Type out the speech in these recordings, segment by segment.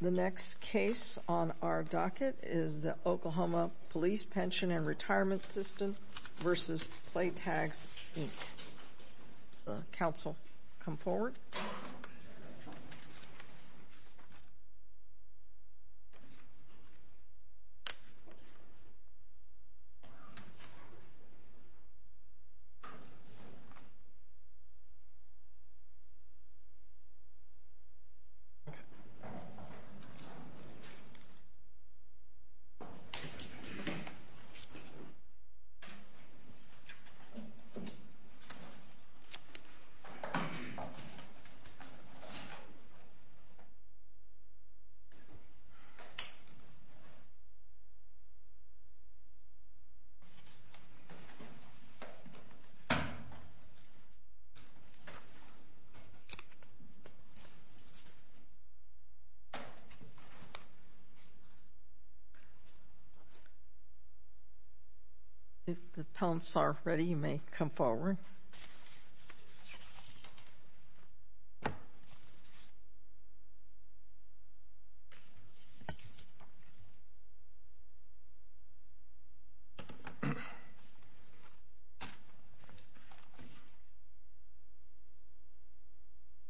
The next case on our docket is the Oklahoma Police Pension and Retirement System v. PlayAGS, Inc. Counsel, come forward. Okay. If the panelists are ready, you may come forward.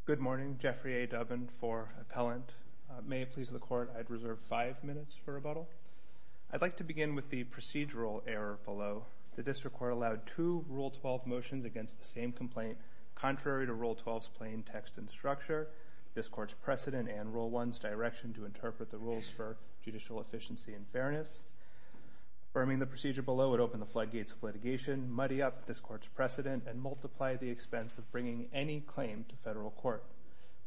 Good morning. Jeffrey A. Dubbin for Appellant. May it please the Court, I'd reserve five minutes for rebuttal. I'd like to begin with the procedural error below. The District Court allowed two Rule 12 motions against the same complaint, contrary to Rule 12's plain text and structure, this Court's precedent and Rule 1's direction to interpret the rules for judicial efficiency and fairness. Firming the procedure below would open the floodgates of litigation, muddy up this Court's precedent, and multiply the expense of bringing any claim to federal court.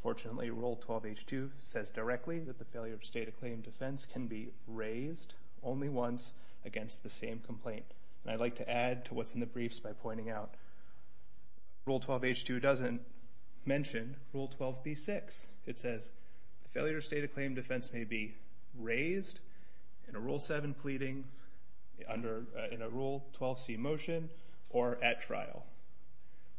Fortunately, Rule 12H2 says directly that the failure to state a claim in defense can be raised only once against the same complaint. I'd like to add to what's in the briefs by pointing out Rule 12H2 doesn't mention Rule 12B6. It says the failure to state a claim in defense may be raised in a Rule 7 pleading, in a Rule 12C motion, or at trial.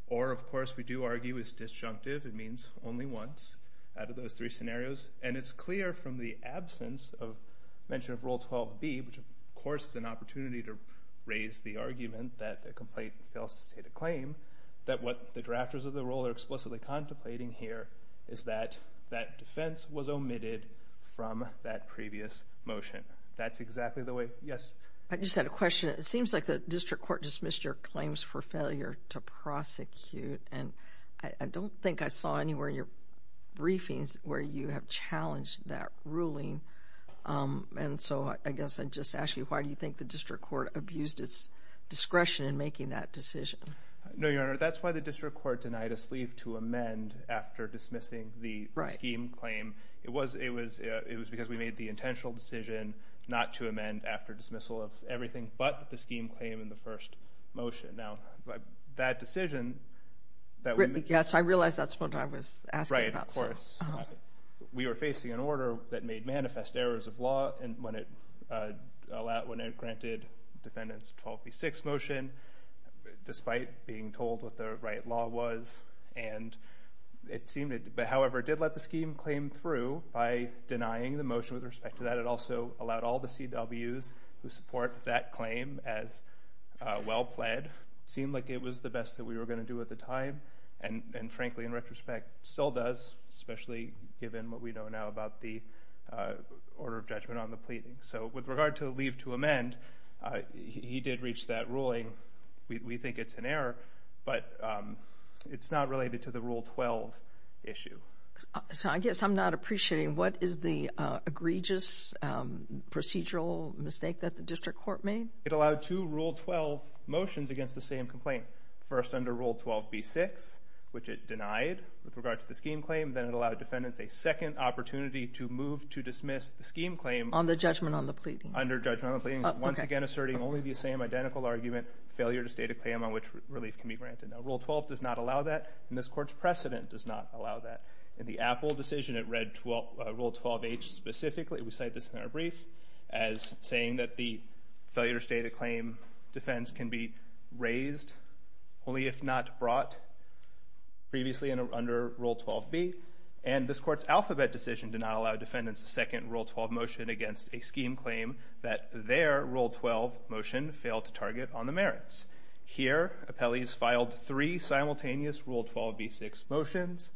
Or, of course, we do argue it's disjunctive, it means only once out of those three scenarios, and it's clear from the absence of mention of Rule 12B, which, of course, is an opportunity to raise the argument that the complaint fails to state a claim, that what the drafters of the Rule are explicitly contemplating here is that that defense was omitted from that previous motion. That's exactly the way. Yes? I just had a question. It seems like the District Court dismissed your claims for failure to prosecute, and I don't think I saw anywhere in your briefings where you have challenged that ruling. And so I guess I'd just ask you, why do you think the District Court abused its discretion in making that decision? No, Your Honor, that's why the District Court denied us leave to amend after dismissing the scheme claim. It was because we made the intentional decision not to amend after dismissal of everything but the scheme claim in the first motion. Now, that decision that we made... Yes, I realize that's what I was asking about. Right, of course. We were facing an order that made manifest errors of law when it granted Defendants 12 v. 6 motion, despite being told what the right law was. However, it did let the scheme claim through by denying the motion with respect to that. It also allowed all the CWs who support that claim as well-pled. It seemed like it was the best that we were going to do at the time, and frankly, in retrospect, still does, especially given what we know now about the order of judgment on the pleading. So with regard to leave to amend, he did reach that ruling. We think it's an error, but it's not related to the Rule 12 issue. So I guess I'm not appreciating, what is the egregious procedural mistake that the District Court made? It allowed two Rule 12 motions against the same complaint. First, under Rule 12 v. 6, which it denied with regard to the scheme claim. Then it allowed Defendants a second opportunity to move to dismiss the scheme claim. On the judgment on the pleading. Under judgment on the pleading, once again asserting only the same identical argument, failure to state a claim on which relief can be granted. Now, Rule 12 does not allow that, and this Court's precedent does not allow that. In the Apple decision, it read Rule 12h specifically, we cite this in our brief, as saying that the failure to state a claim defense can be raised, only if not brought, previously under Rule 12b. And this Court's alphabet decision did not allow Defendants a second Rule 12 motion against a scheme claim that their Rule 12 motion failed to target on the merits. Here, appellees filed three simultaneous Rule 12 v. 6 motions.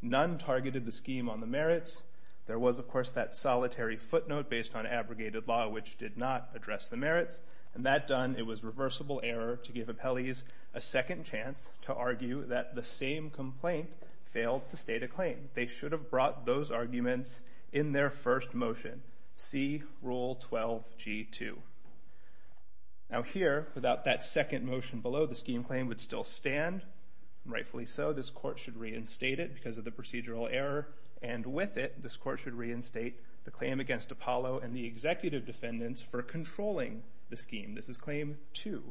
None targeted the scheme on the merits. There was, of course, that solitary footnote based on abrogated law, which did not address the merits. And that done, it was reversible error to give appellees a second chance to argue that the same complaint failed to state a claim. They should have brought those arguments in their first motion. See Rule 12 g. 2. Now here, without that second motion below, the scheme claim would still stand. Rightfully so. This Court should reinstate it because of the procedural error. And with it, this Court should reinstate the claim against Apollo and the Executive Defendants for controlling the scheme. This is Claim 2.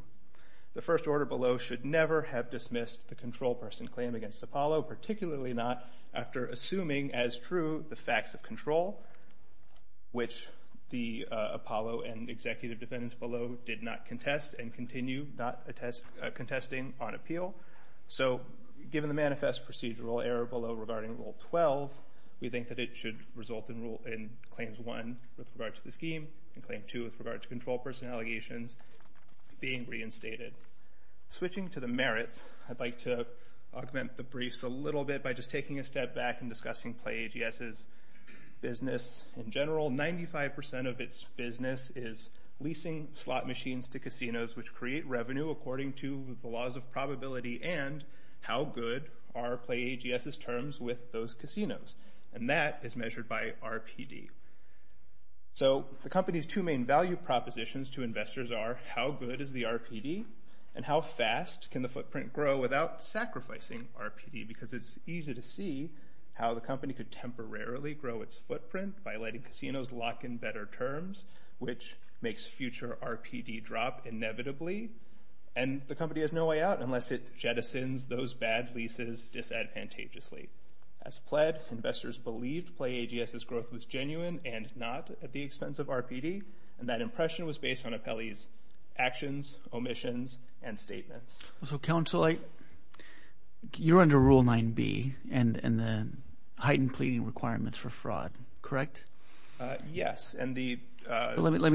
The first order below should never have dismissed the control person claim against Apollo, particularly not after assuming as true the facts of control, which the Apollo and Executive Defendants below did not contest and continue not contesting on appeal. So given the manifest procedural error below regarding Rule 12, we think that it should result in Claims 1 with regard to the scheme and Claim 2 with regard to control person allegations being reinstated. Switching to the merits, I'd like to augment the briefs a little bit by just taking a step back and discussing PlayAGS's business in general. 95% of its business is leasing slot machines to casinos, which create revenue according to the laws of probability and how good are PlayAGS's terms with those casinos? And that is measured by RPD. So the company's two main value propositions to investors are how good is the RPD and how fast can the footprint grow without sacrificing RPD because it's easy to see how the company could temporarily grow its footprint by letting casinos lock in better terms, which makes future RPD drop inevitably, and the company has no way out unless it jettisons those bad leases disadvantageously. As pled, investors believed PlayAGS's growth was genuine and not at the expense of RPD, and that impression was based on Apelli's actions, omissions, and statements. So Counselor, you're under Rule 9b and the heightened pleading requirements for fraud, correct? Yes. Let me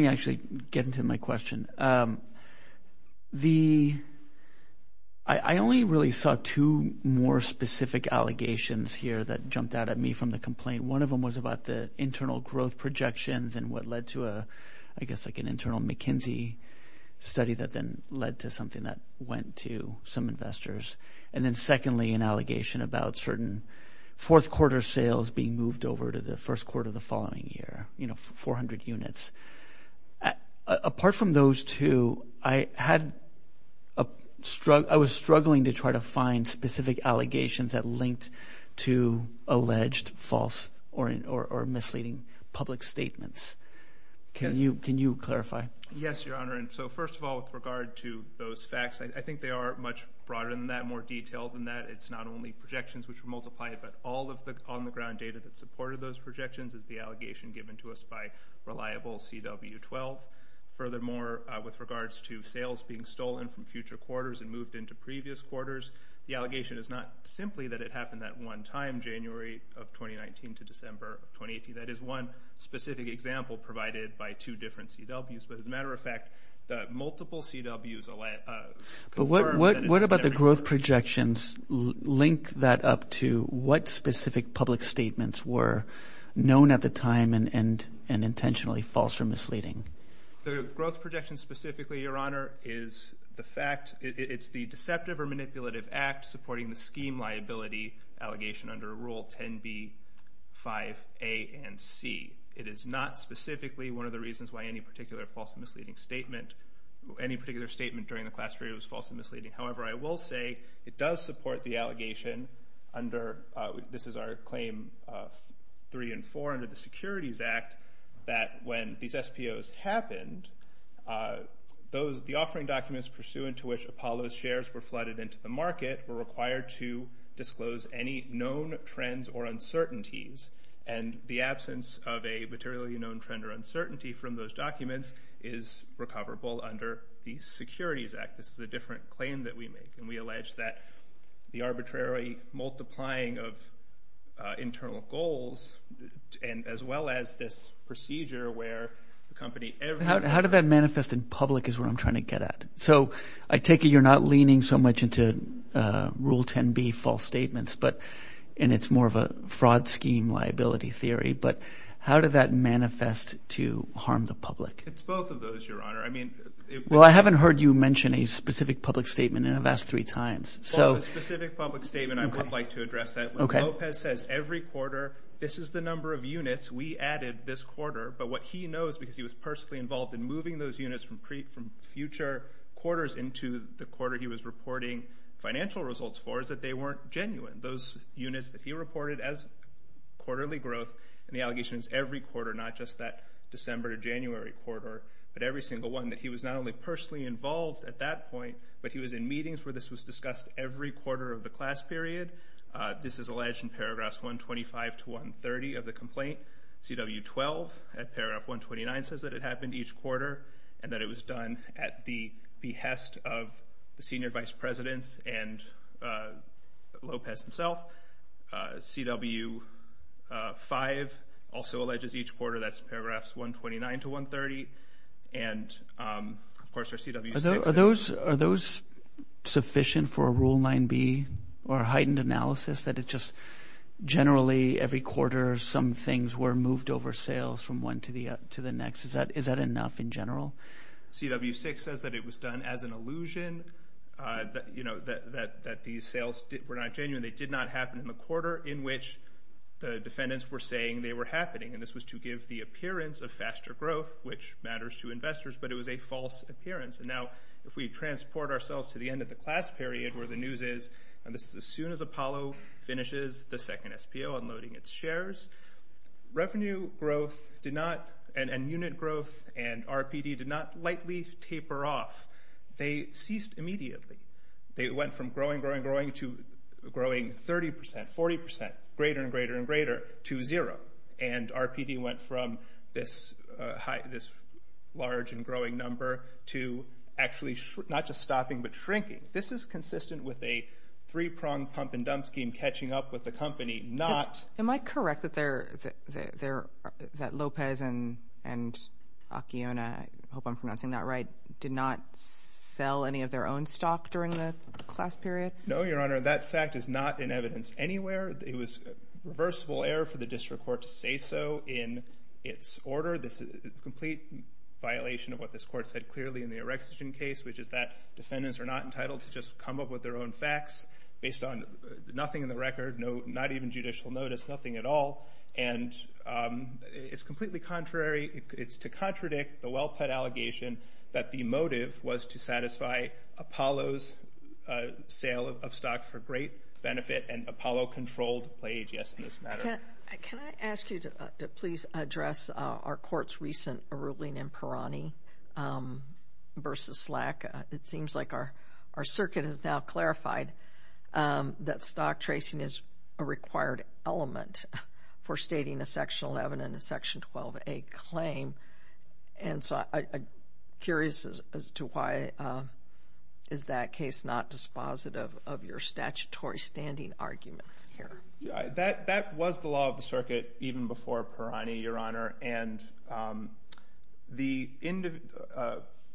actually get into my question. I only really saw two more specific allegations here that jumped out at me from the complaint. One of them was about the internal growth projections and what led to, I guess, like an internal McKinsey study that then led to something that went to some investors. And then secondly, an allegation about certain fourth quarter sales being moved over to the first quarter of the following year, you know, 400 units. Apart from those two, I was struggling to try to find specific allegations that linked to alleged false or misleading public statements. Can you clarify? Yes, Your Honor, and so first of all, with regard to those facts, I think they are much broader than that, more detailed than that. It's not only projections which were multiplied, but all of the on-the-ground data that supported those projections is the allegation given to us by reliable CW-12. Furthermore, with regards to sales being stolen from future quarters and moved into previous quarters, the allegation is not simply that it happened that one time, January of 2019 to December of 2018. That is one specific example provided by two different CWs. But as a matter of fact, the multiple CWs... But what about the growth projections link that up to what specific public statements were known at the time and intentionally false or misleading? The growth projections specifically, Your Honor, is the fact, it's the deceptive or manipulative act supporting the scheme liability allegation under Rule 10b, 5a, and c. It is not specifically one of the reasons why any particular false or misleading statement, any particular statement during the class period was false or misleading. However, I will say it does support the allegation under... This is our claim 3 and 4 under the Securities Act that when these SPOs happened, the offering documents pursuant to which Apollo's shares were flooded into the market were required to disclose any known trends or uncertainties. And the absence of a materially known trend or uncertainty from those documents is recoverable under the Securities Act. This is a different claim that we make, and we allege that the arbitrary multiplying of internal goals as well as this procedure where the company... How did that manifest in public is what I'm trying to get at. So I take it you're not leaning so much into Rule 10b false statements, and it's more of a fraud scheme liability theory, but how did that manifest to harm the public? It's both of those, Your Honor. Well, I haven't heard you mention a specific public statement, and I've asked three times. A specific public statement, I would like to address that. When Lopez says every quarter, this is the number of units we added this quarter, but what he knows because he was personally involved in moving those units from future quarters into the quarter he was reporting financial results for is that they weren't genuine. Those units that he reported as quarterly growth, and the allegation is every quarter, not just that December to January quarter, but every single one that he was not only personally involved at that point, but he was in meetings where this was discussed every quarter of the class period. This is alleged in paragraphs 125 to 130 of the complaint. CW12 at paragraph 129 says that it happened each quarter and that it was done at the behest of the senior vice presidents and Lopez himself. CW5 also alleges each quarter. That's paragraphs 129 to 130. And, of course, there's CW6. Are those sufficient for a Rule 9b or a heightened analysis that it's just generally every quarter some things were moved over sales from one to the next? Is that enough in general? CW6 says that it was done as an illusion. That these sales were not genuine. They did not happen in the quarter in which the defendants were saying they were happening, and this was to give the appearance of faster growth, which matters to investors, but it was a false appearance. Now, if we transport ourselves to the end of the class period where the news is, and this is as soon as Apollo finishes the second SPO unloading its shares, revenue growth and unit growth and RPD did not lightly taper off. They ceased immediately. They went from growing, growing, growing to growing 30%, 40%, greater and greater and greater to zero. And RPD went from this large and growing number to actually not just stopping but shrinking. This is consistent with a three-pronged pump-and-dump scheme catching up with the company, not... Am I correct that Lopez and Acuona, I hope I'm pronouncing that right, did not sell any of their own stock during the class period? No, Your Honor, that fact is not in evidence anywhere. It was reversible error for the district court to say so in its order. This is a complete violation of what this court said clearly in the Orexogen case, which is that defendants are not entitled to just come up with their own facts based on nothing in the record, not even judicial notice, nothing at all. And it's completely contrary. It's to contradict the well-put allegation that the motive was to satisfy Apollo's sale of stock for great benefit and Apollo controlled the plague, yes, in this matter. Can I ask you to please address our court's recent ruling in Pirani versus Slack? It seems like our circuit has now clarified that stock tracing is a required element for stating a Section 11 and a Section 12a claim. And so I'm curious as to why is that case not dispositive of your statutory standing argument here? That was the law of the circuit even before Pirani, Your Honor, and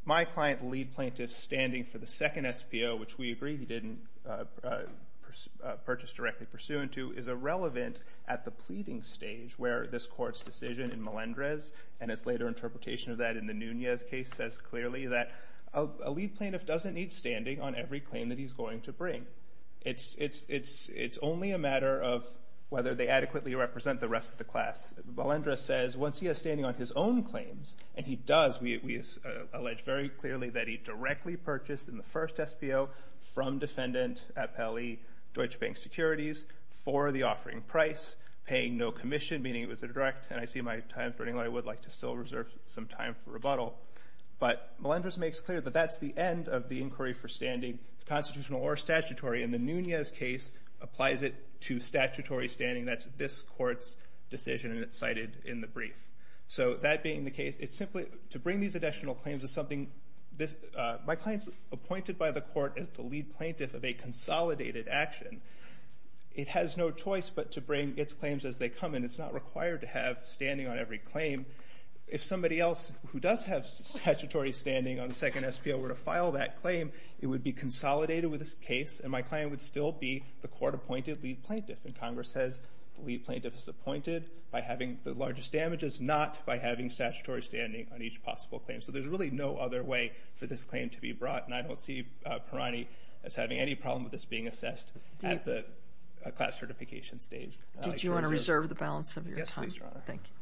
my client lead plaintiff's standing for the second SPO, which we agree he didn't purchase directly pursuant to, is irrelevant at the pleading stage where this court's decision in Melendrez and its later interpretation of that in the Nunez case says clearly that a lead plaintiff doesn't need standing on every claim that he's going to bring. It's only a matter of whether they adequately represent the rest of the class. Melendrez says once he has standing on his own claims, and he does, we allege very clearly that he directly purchased in the first SPO from defendant appellee Deutsche Bank Securities for the offering price, paying no commission, meaning it was a direct. And I see my time's running low. I would like to still reserve some time for rebuttal. But Melendrez makes clear that that's the end of the inquiry for standing, constitutional or statutory, and the Nunez case applies it to statutory standing. That's this court's decision, and it's cited in the brief. So that being the case, it's simply to bring these additional claims is something this, my client's appointed by the court as the lead plaintiff of a consolidated action. It has no choice but to bring its claims as they come, and it's not required to have standing on every claim. If somebody else who does have statutory standing on the second SPO were to file that claim, it would be consolidated with this case, and my client would still be the court-appointed lead plaintiff. And Congress says the lead plaintiff is appointed by having the largest damages, not by having statutory standing on each possible claim. So there's really no other way for this claim to be brought, and I don't see Parani as having any problem with this being assessed at the class certification stage. Do you want to reserve the balance of your time? Yes, please, Your Honor. Thank you.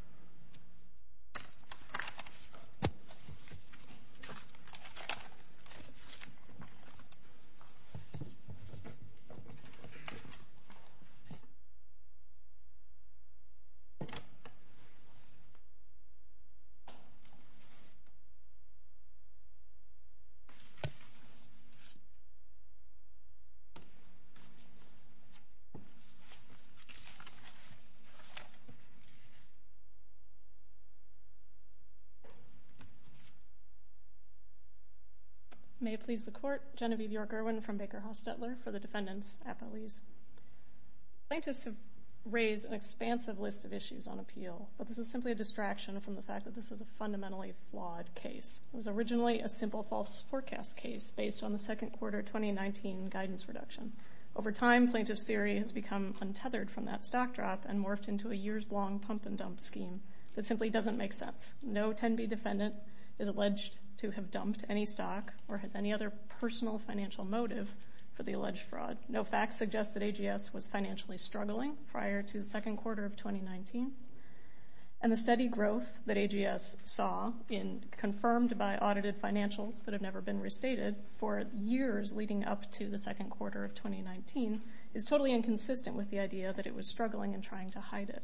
May it please the court, Genevieve York-Irwin from Baker-Hostetler for the defendants' appellees. Plaintiffs have raised an expansive list of issues on appeal, but this is simply a distraction from the fact that this is a fundamentally flawed case. It was originally a simple false forecast case based on the second quarter of 2019 guidance reduction. Over time, plaintiffs' theory has become untethered from that stock drop and morphed into a years-long pump-and-dump scheme that simply doesn't make sense. No 10b defendant is alleged to have dumped any stock or has any other personal financial motive for the alleged fraud. No facts suggest that AGS was financially struggling prior to the second quarter of 2019, and the steady growth that AGS saw confirmed by audited financials that have never been restated for years leading up to the second quarter of 2019 is totally inconsistent with the idea that it was struggling and trying to hide it.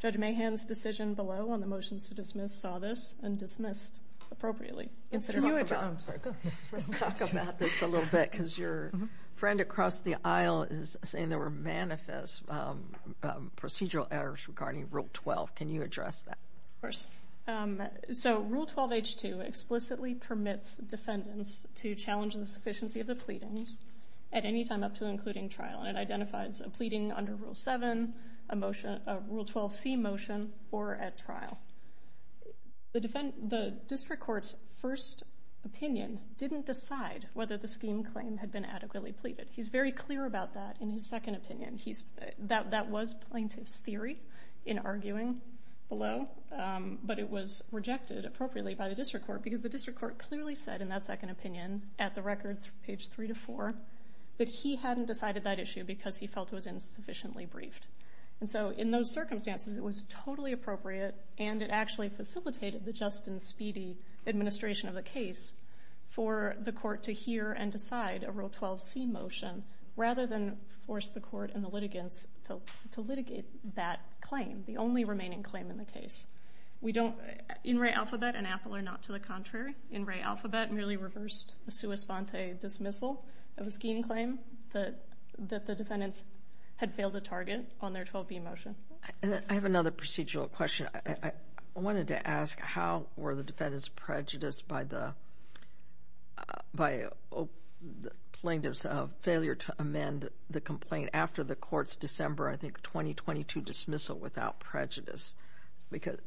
Judge Mahan's decision below on the motions to dismiss saw this and dismissed appropriately. Let's talk about this a little bit because your friend across the aisle is saying there were manifest procedural errors regarding Rule 12. Can you address that? Of course. So Rule 12H2 explicitly permits defendants to challenge the sufficiency of the pleadings at any time up to and including trial, and it identifies a pleading under Rule 7, a Rule 12C motion, or at trial. The district court's first opinion didn't decide whether the scheme claim had been adequately pleaded. He's very clear about that in his second opinion. That was plaintiff's theory in arguing below, but it was rejected appropriately by the district court because the district court clearly said in that second opinion at the record, page 3 to 4, that he hadn't decided that issue because he felt it was insufficiently briefed. And so in those circumstances, it was totally appropriate, and it actually facilitated the just and speedy administration of the case for the court to hear and decide a Rule 12C motion rather than force the court and the litigants to litigate that claim, the only remaining claim in the case. In Ray Alphabet and Apple are not to the contrary. In Ray Alphabet merely reversed a sua sponte dismissal of a scheme claim that the defendants had failed to target on their 12B motion. I have another procedural question. I wanted to ask how were the defendants prejudiced by the plaintiffs' failure to amend the complaint after the court's December, I think, 2022 dismissal without prejudice? Because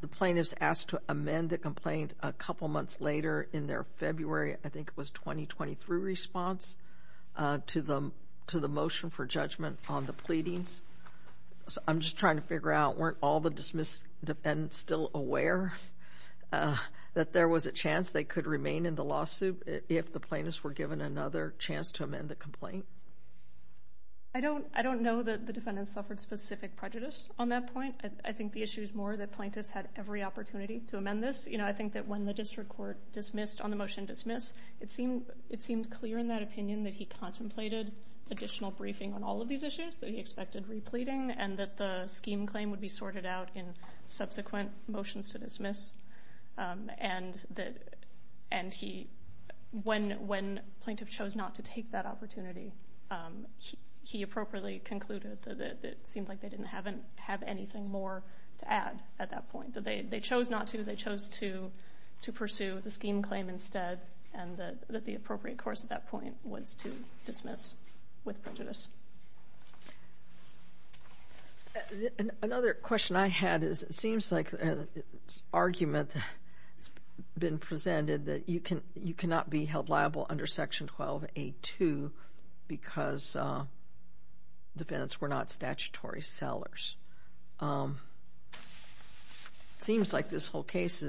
the plaintiffs asked to amend the complaint a couple months later in their February, I think it was, 2023 response to the motion for judgment on the pleadings. So I'm just trying to figure out, weren't all the dismissed defendants still aware that there was a chance they could remain in the lawsuit if the plaintiffs were given another chance to amend the complaint? I don't know that the defendants suffered specific prejudice on that point. I think the issue is more that plaintiffs had every opportunity to amend this. I think that when the district court dismissed on the motion to dismiss, it seemed clear in that opinion that he contemplated additional briefing on all of these issues that he expected repleting and that the scheme claim would be sorted out in subsequent motions to dismiss. And he, when plaintiff chose not to take that opportunity, he appropriately concluded that it seemed like they didn't have anything more to add at that point, that they chose not to, they chose to pursue the scheme claim instead, and that the appropriate course at that point was to dismiss with prejudice. Another question I had is it seems like an argument has been presented that you cannot be held liable under Section 12A2 because defendants were not statutory sellers. It seems like this whole case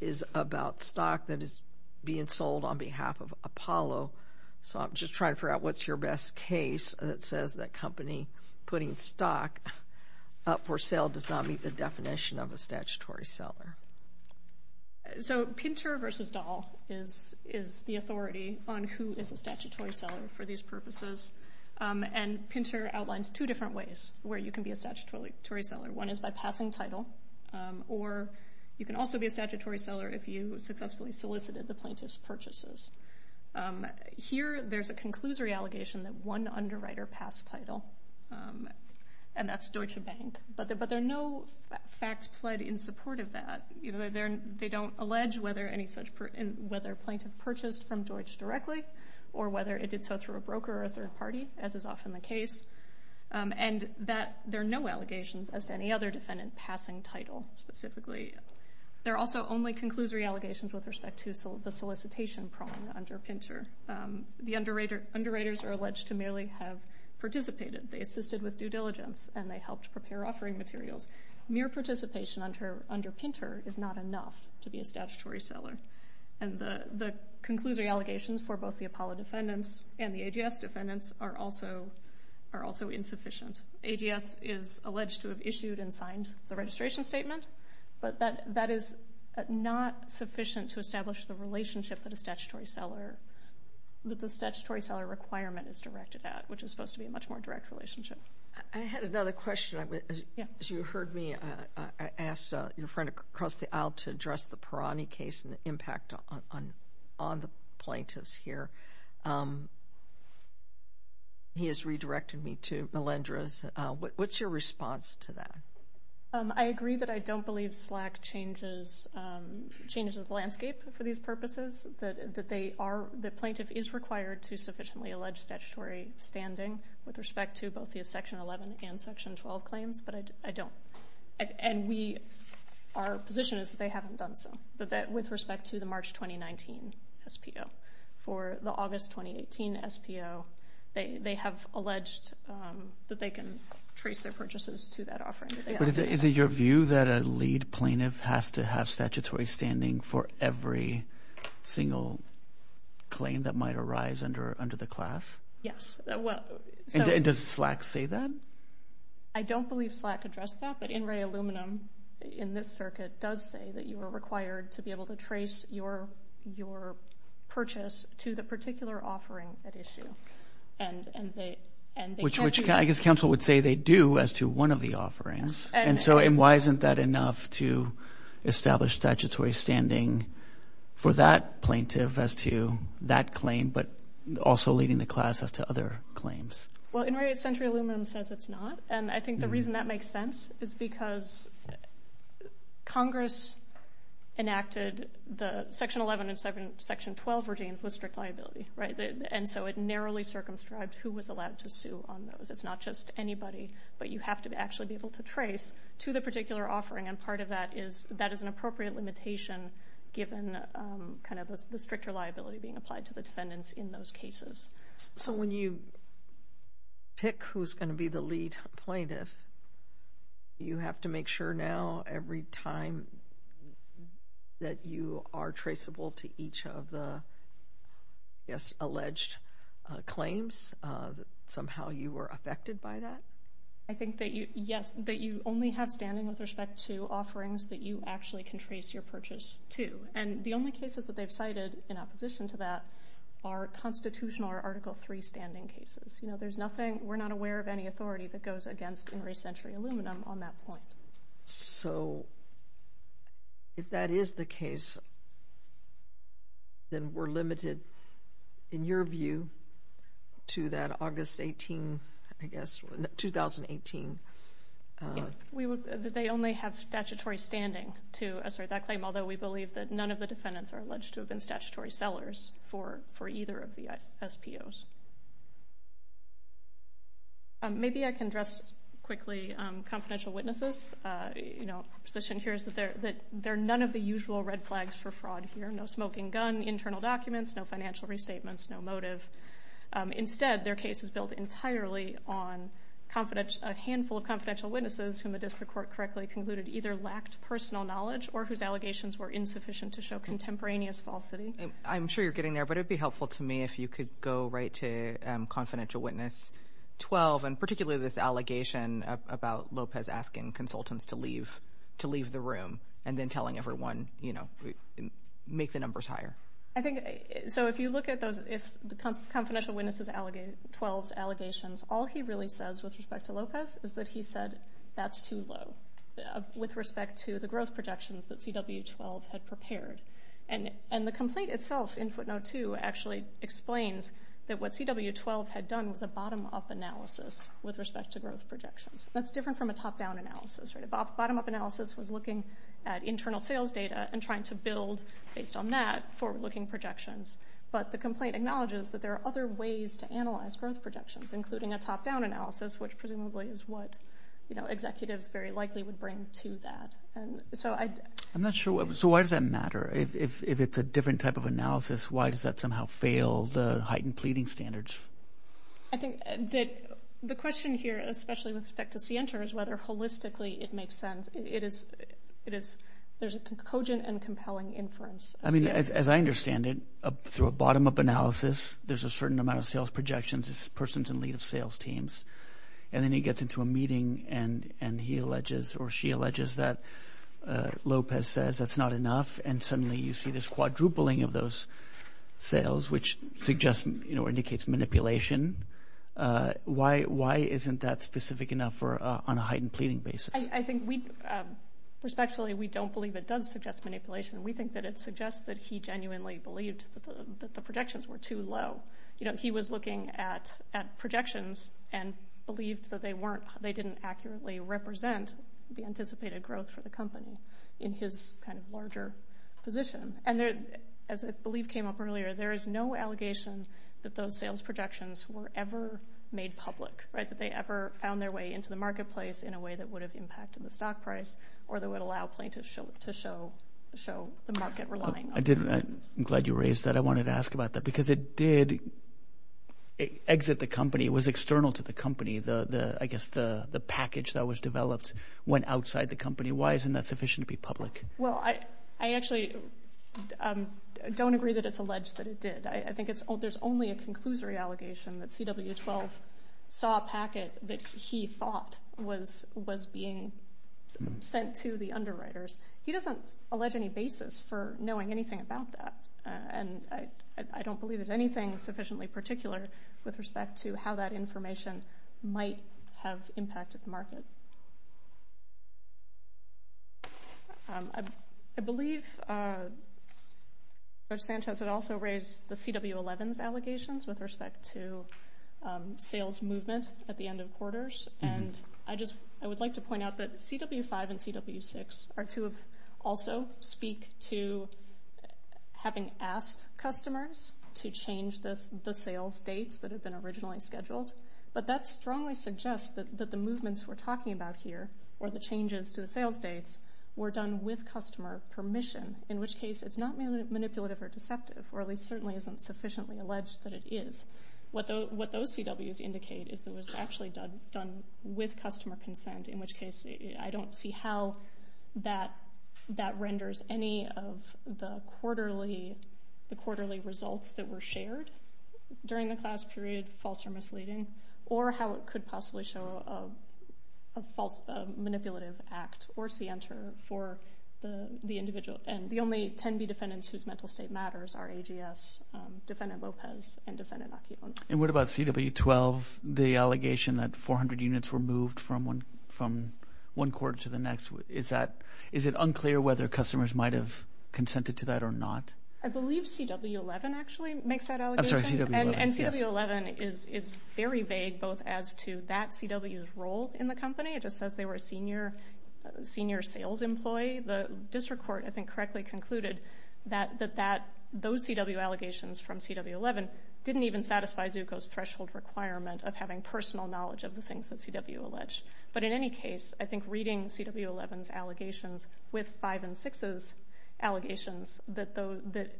is about stock that is being sold on behalf of Apollo, so I'm just trying to figure out what's your best case that says that company putting stock up for sale does not meet the definition of a statutory seller. So Pinter v. Dahl is the authority on who is a statutory seller for these purposes, and Pinter outlines two different ways where you can be a statutory seller. One is by passing title, or you can also be a statutory seller if you successfully solicited the plaintiff's purchases. Here there's a conclusory allegation that one underwriter passed title, and that's Deutsche Bank, but there are no facts pled in support of that. They don't allege whether a plaintiff purchased from Deutsch directly or whether it did so through a broker or a third party, as is often the case, and there are no allegations as to any other defendant passing title specifically. There are also only conclusory allegations with respect to the solicitation prong under Pinter. The underwriters are alleged to merely have participated. They assisted with due diligence, and they helped prepare offering materials. Mere participation under Pinter is not enough to be a statutory seller, and the conclusory allegations for both the Apollo defendants and the AGS defendants are also insufficient. AGS is alleged to have issued and signed the registration statement, but that is not sufficient to establish the relationship that the statutory seller requirement is directed at, which is supposed to be a much more direct relationship. I had another question. You heard me ask your friend across the aisle to address the Perani case and the impact on the plaintiffs here. He has redirected me to Melendrez. What's your response to that? I agree that I don't believe SLAC changes the landscape for these purposes, that the plaintiff is required to sufficiently allege statutory standing with respect to both the Section 11 and Section 12 claims, but I don't. And our position is that they haven't done so, but that with respect to the March 2019 SPO, for the August 2018 SPO, they have alleged that they can trace their purchases to that offering. But is it your view that a lead plaintiff has to have statutory standing for every single claim that might arise under the class? Yes. And does SLAC say that? I don't believe SLAC addressed that, but INRAE Aluminum, in this circuit, does say that you are required to be able to trace your purchase to the particular offering at issue. Which I guess counsel would say they do as to one of the offerings. And so why isn't that enough to establish statutory standing for that plaintiff as to that claim, but also leading the class as to other claims? Well, INRAE Century Aluminum says it's not, and I think the reason that makes sense is because Congress enacted the Section 11 and Section 12 regimes with strict liability. And so it narrowly circumscribed who was allowed to sue on those. It's not just anybody, but you have to actually be able to trace to the particular offering, and part of that is that is an appropriate limitation given the stricter liability being applied to the defendants in those cases. So when you pick who's going to be the lead plaintiff, you have to make sure now every time that you are traceable to each of the alleged claims, that somehow you were affected by that? I think that, yes, that you only have standing with respect to offerings that you actually can trace your purchase to. And the only cases that they've cited in opposition to that are constitutional or Article III standing cases. You know, there's nothing, we're not aware of any authority that goes against INRAE Century Aluminum on that point. So if that is the case, then we're limited, in your view, to that August 18, I guess, 2018? They only have statutory standing to assert that claim, although we believe that none of the defendants are alleged to have been statutory sellers for either of the SPOs. Maybe I can address quickly confidential witnesses. The position here is that there are none of the usual red flags for fraud here. No smoking gun, internal documents, no financial restatements, no motive. Instead, their case is built entirely on a handful of confidential witnesses whom the district court correctly concluded either lacked personal knowledge or whose allegations were insufficient to show contemporaneous falsity. I'm sure you're getting there, but it would be helpful to me if you could go right to Confidential Witness 12, and particularly this allegation about Lopez asking consultants to leave the room and then telling everyone, you know, make the numbers higher. So if you look at those Confidential Witnesses 12 allegations, all he really says with respect to Lopez is that he said that's too low with respect to the growth projections that CW12 had prepared. And the complaint itself in footnote 2 actually explains that what CW12 had done was a bottom-up analysis with respect to growth projections. That's different from a top-down analysis, right? A bottom-up analysis was looking at internal sales data and trying to build, based on that, forward-looking projections. But the complaint acknowledges that there are other ways to analyze growth projections, including a top-down analysis, which presumably is what, you know, is referring to that. I'm not sure. So why does that matter? If it's a different type of analysis, why does that somehow fail the heightened pleading standards? I think that the question here, especially with respect to Sienter, is whether holistically it makes sense. There's a cogent and compelling inference. I mean, as I understand it, through a bottom-up analysis, there's a certain amount of sales projections, this person's in lead of sales teams, and then he gets into a meeting and he alleges or she alleges that Lopez says that's not enough, and suddenly you see this quadrupling of those sales, which indicates manipulation. Why isn't that specific enough on a heightened pleading basis? I think, respectfully, we don't believe it does suggest manipulation. We think that it suggests that he genuinely believed that the projections were too low. You know, he was looking at projections and believed that they didn't accurately represent the anticipated growth for the company in his kind of larger position. And as I believe came up earlier, there is no allegation that those sales projections were ever made public, right, that they ever found their way into the marketplace in a way that would have impacted the stock price or that would allow plaintiffs to show the market relying on them. I'm glad you raised that. I wanted to ask about that because it did exit the company. It was external to the company. I guess the package that was developed went outside the company. Why isn't that sufficient to be public? Well, I actually don't agree that it's alleged that it did. I think there's only a conclusory allegation that CW12 saw a packet that he thought was being sent to the underwriters. He doesn't allege any basis for knowing anything about that. And I don't believe there's anything sufficiently particular with respect to how that information might have impacted the market. I believe Coach Sanchez had also raised the CW11's allegations with respect to sales movement at the end of quarters. I would like to point out that CW5 and CW6 are to also speak to having asked customers to change the sales dates that had been originally scheduled. But that strongly suggests that the movements we're talking about here, or the changes to the sales dates, were done with customer permission, in which case it's not manipulative or deceptive, or at least certainly isn't sufficiently alleged that it is. What those CWs indicate is that it was actually done with customer consent, in which case I don't see how that renders any of the quarterly results that were shared during the class period, false or misleading, or how it could possibly show a manipulative act or scienter for the individual. And the only 10 B defendants whose mental state matters are AGS, Defendant Lopez, and Defendant Acuón. And what about CW12, the allegation that 400 units were moved from one court to the next? Is it unclear whether customers might have consented to that or not? I believe CW11 actually makes that allegation. I'm sorry, CW11. And CW11 is very vague both as to that CW's role in the company. It just says they were a senior sales employee. The district court, I think, correctly concluded that those CW allegations from CW11 didn't even satisfy Zucco's threshold requirement of having personal knowledge of the things that CW alleged. But in any case, I think reading CW11's allegations with 5 and 6's allegations, that the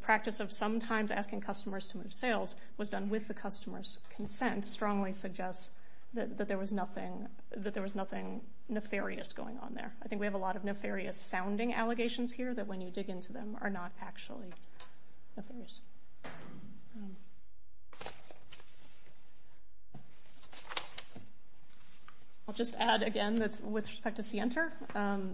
practice of sometimes asking customers to move sales was done with the customer's consent, I think strongly suggests that there was nothing nefarious going on there. I think we have a lot of nefarious sounding allegations here that when you dig into them are not actually nefarious. I'll just add again that with respect to scienter,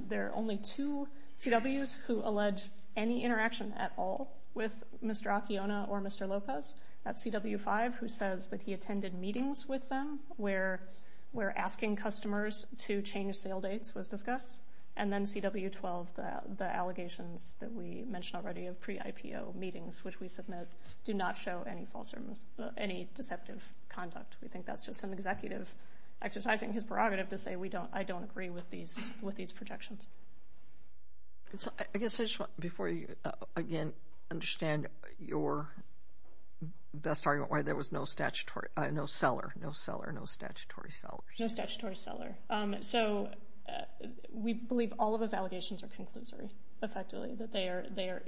there are only two CW's who allege any interaction at all with Mr. Acuón or Mr. Lopez. That's CW5 who says that he attended meetings with them where asking customers to change sale dates was discussed. And then CW12, the allegations that we mentioned already of pre-IPO meetings, which we submit, do not show any deceptive conduct. We think that's just an executive exercising his prerogative to say I don't agree with these projections. I guess I just want, before you again understand your best argument, why there was no statutory seller. No statutory seller. So we believe all of those allegations are conclusory, effectively. That they are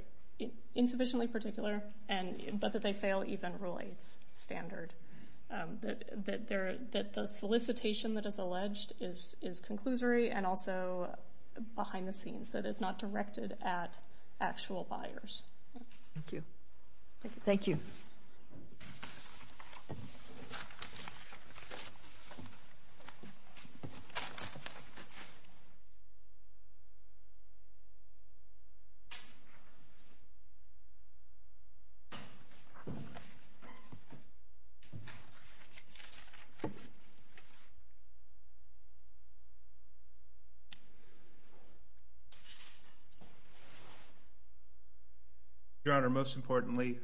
insufficiently particular, but that they fail even Rule 8's standard. That the solicitation that is alleged is conclusory and also behind the scenes. That it's not directed at actual buyers. Thank you. Thank you. Your Honor, most importantly,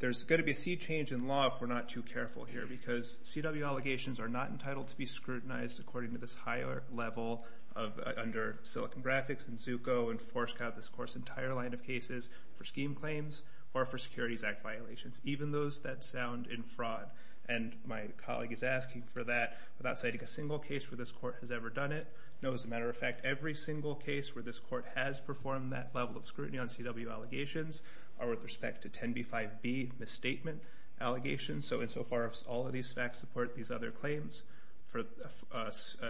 there's going to be a sea change in law if we're not too careful here. Because CW allegations are not entitled to be scrutinized according to this higher level under Silicon Graphics and Zucco. And Forescout this course entire line of cases for scheme claims or for Securities Act violations. Even those that sound in fraud. And my colleague is asking for that without citing a single case where this court has ever done it. No, as a matter of fact, every single case where this court has performed that level of scrutiny on CW allegations. Or with respect to 10b-5b misstatement allegations. So insofar as all of these facts support these other claims for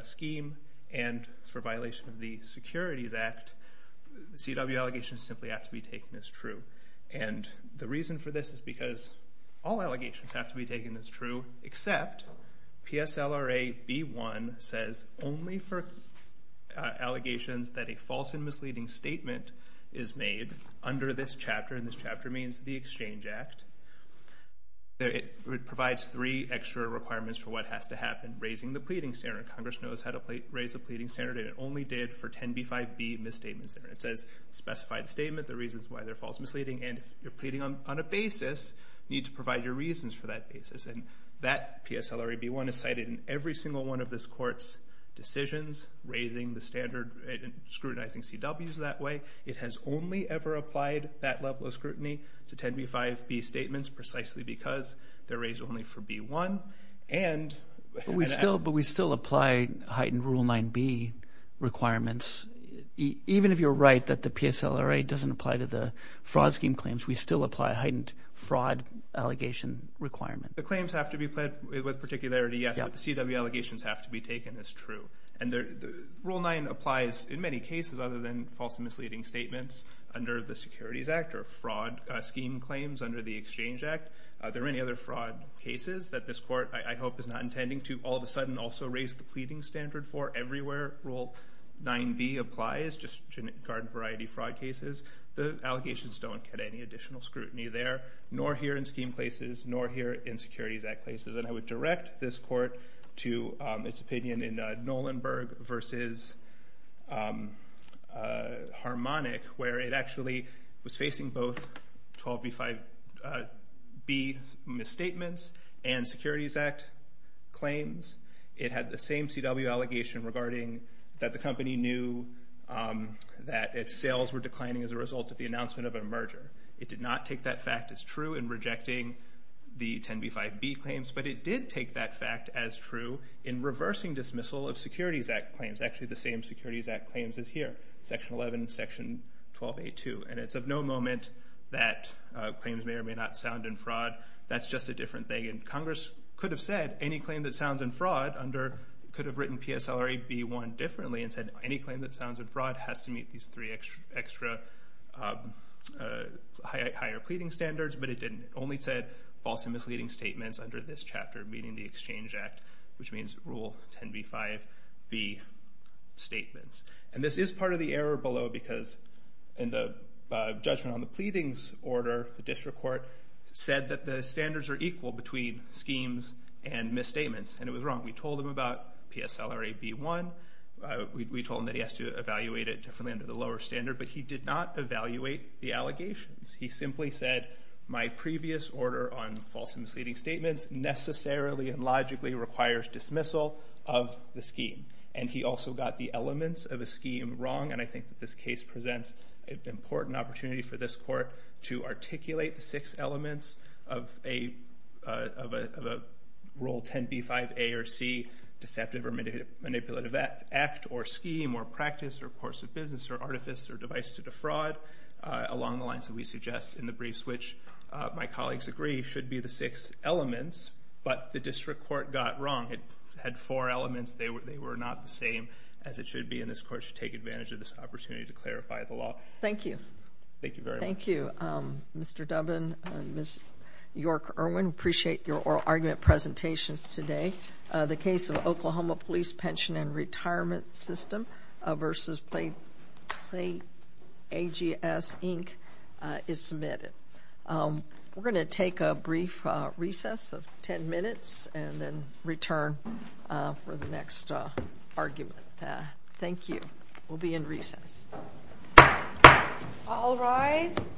scheme and for violation of the Securities Act. CW allegations simply have to be taken as true. And the reason for this is because all allegations have to be taken as true. Except PSLRA B-1 says only for allegations that a false and misleading statement is made under this chapter. And this chapter means the Exchange Act. It provides three extra requirements for what has to happen. Raising the pleading standard. Congress knows how to raise a pleading standard. And it only did for 10b-5b misstatements. It says specify the statement, the reasons why they're false and misleading. And if you're pleading on a basis, you need to provide your reasons for that basis. And that PSLRA B-1 is cited in every single one of this court's decisions. Raising the standard and scrutinizing CWs that way. It has only ever applied that level of scrutiny to 10b-5b statements precisely because they're raised only for B-1. But we still apply heightened Rule 9b requirements. Even if you're right that the PSLRA doesn't apply to the fraud scheme claims, we still apply heightened fraud allegation requirements. The claims have to be pled with particularity, yes. But the CW allegations have to be taken as true. Rule 9 applies in many cases other than false and misleading statements under the Securities Act or fraud scheme claims under the Exchange Act. There are many other fraud cases that this court, I hope, is not intending to all of a sudden also raise the pleading standard for. Everywhere Rule 9b applies, just regard variety fraud cases. The allegations don't get any additional scrutiny there, nor here in scheme places, nor here in Securities Act places. And I would direct this court to its opinion in Nolenberg v. Harmonic, where it actually was facing both 12b-5b misstatements and Securities Act claims. It had the same CW allegation regarding that the company knew that its sales were declining as a result of the announcement of a merger. It did not take that fact as true in rejecting the 10b-5b claims, but it did take that fact as true in reversing dismissal of Securities Act claims, actually the same Securities Act claims as here, Section 11, Section 12a-2. And it's of no moment that claims may or may not sound in fraud. That's just a different thing. And Congress could have said, any claim that sounds in fraud could have written PSLRA b-1 differently and said any claim that sounds in fraud has to meet these three extra higher pleading standards, but it didn't. It only said false and misleading statements under this chapter, meaning the Exchange Act, which means Rule 10b-5b statements. And this is part of the error below because in the judgment on the pleadings order, the district court said that the standards are equal between schemes and misstatements, and it was wrong. We told him about PSLRA b-1. We told him that he has to evaluate it differently under the lower standard, but he did not evaluate the allegations. He simply said my previous order on false and misleading statements necessarily and logically requires dismissal of the scheme. And he also got the elements of the scheme wrong, and I think that this case presents an important opportunity for this court to articulate the six elements of a Rule 10b-5a or c, deceptive or manipulative act or scheme or practice or course of business or artifice or device to defraud, along the lines that we suggest in the briefs, which my colleagues agree should be the six elements. But the district court got wrong. It had four elements. They were not the same as it should be, and this court should take advantage of this opportunity to clarify the law. Thank you. Thank you very much. Thank you, Mr. Dubbin and Ms. York-Irwin. We appreciate your oral argument presentations today. The case of Oklahoma Police Pension and Retirement System v. Play AGS, Inc. is submitted. We're going to take a brief recess of 10 minutes and then return for the next argument. Thank you. We'll be in recess. All rise.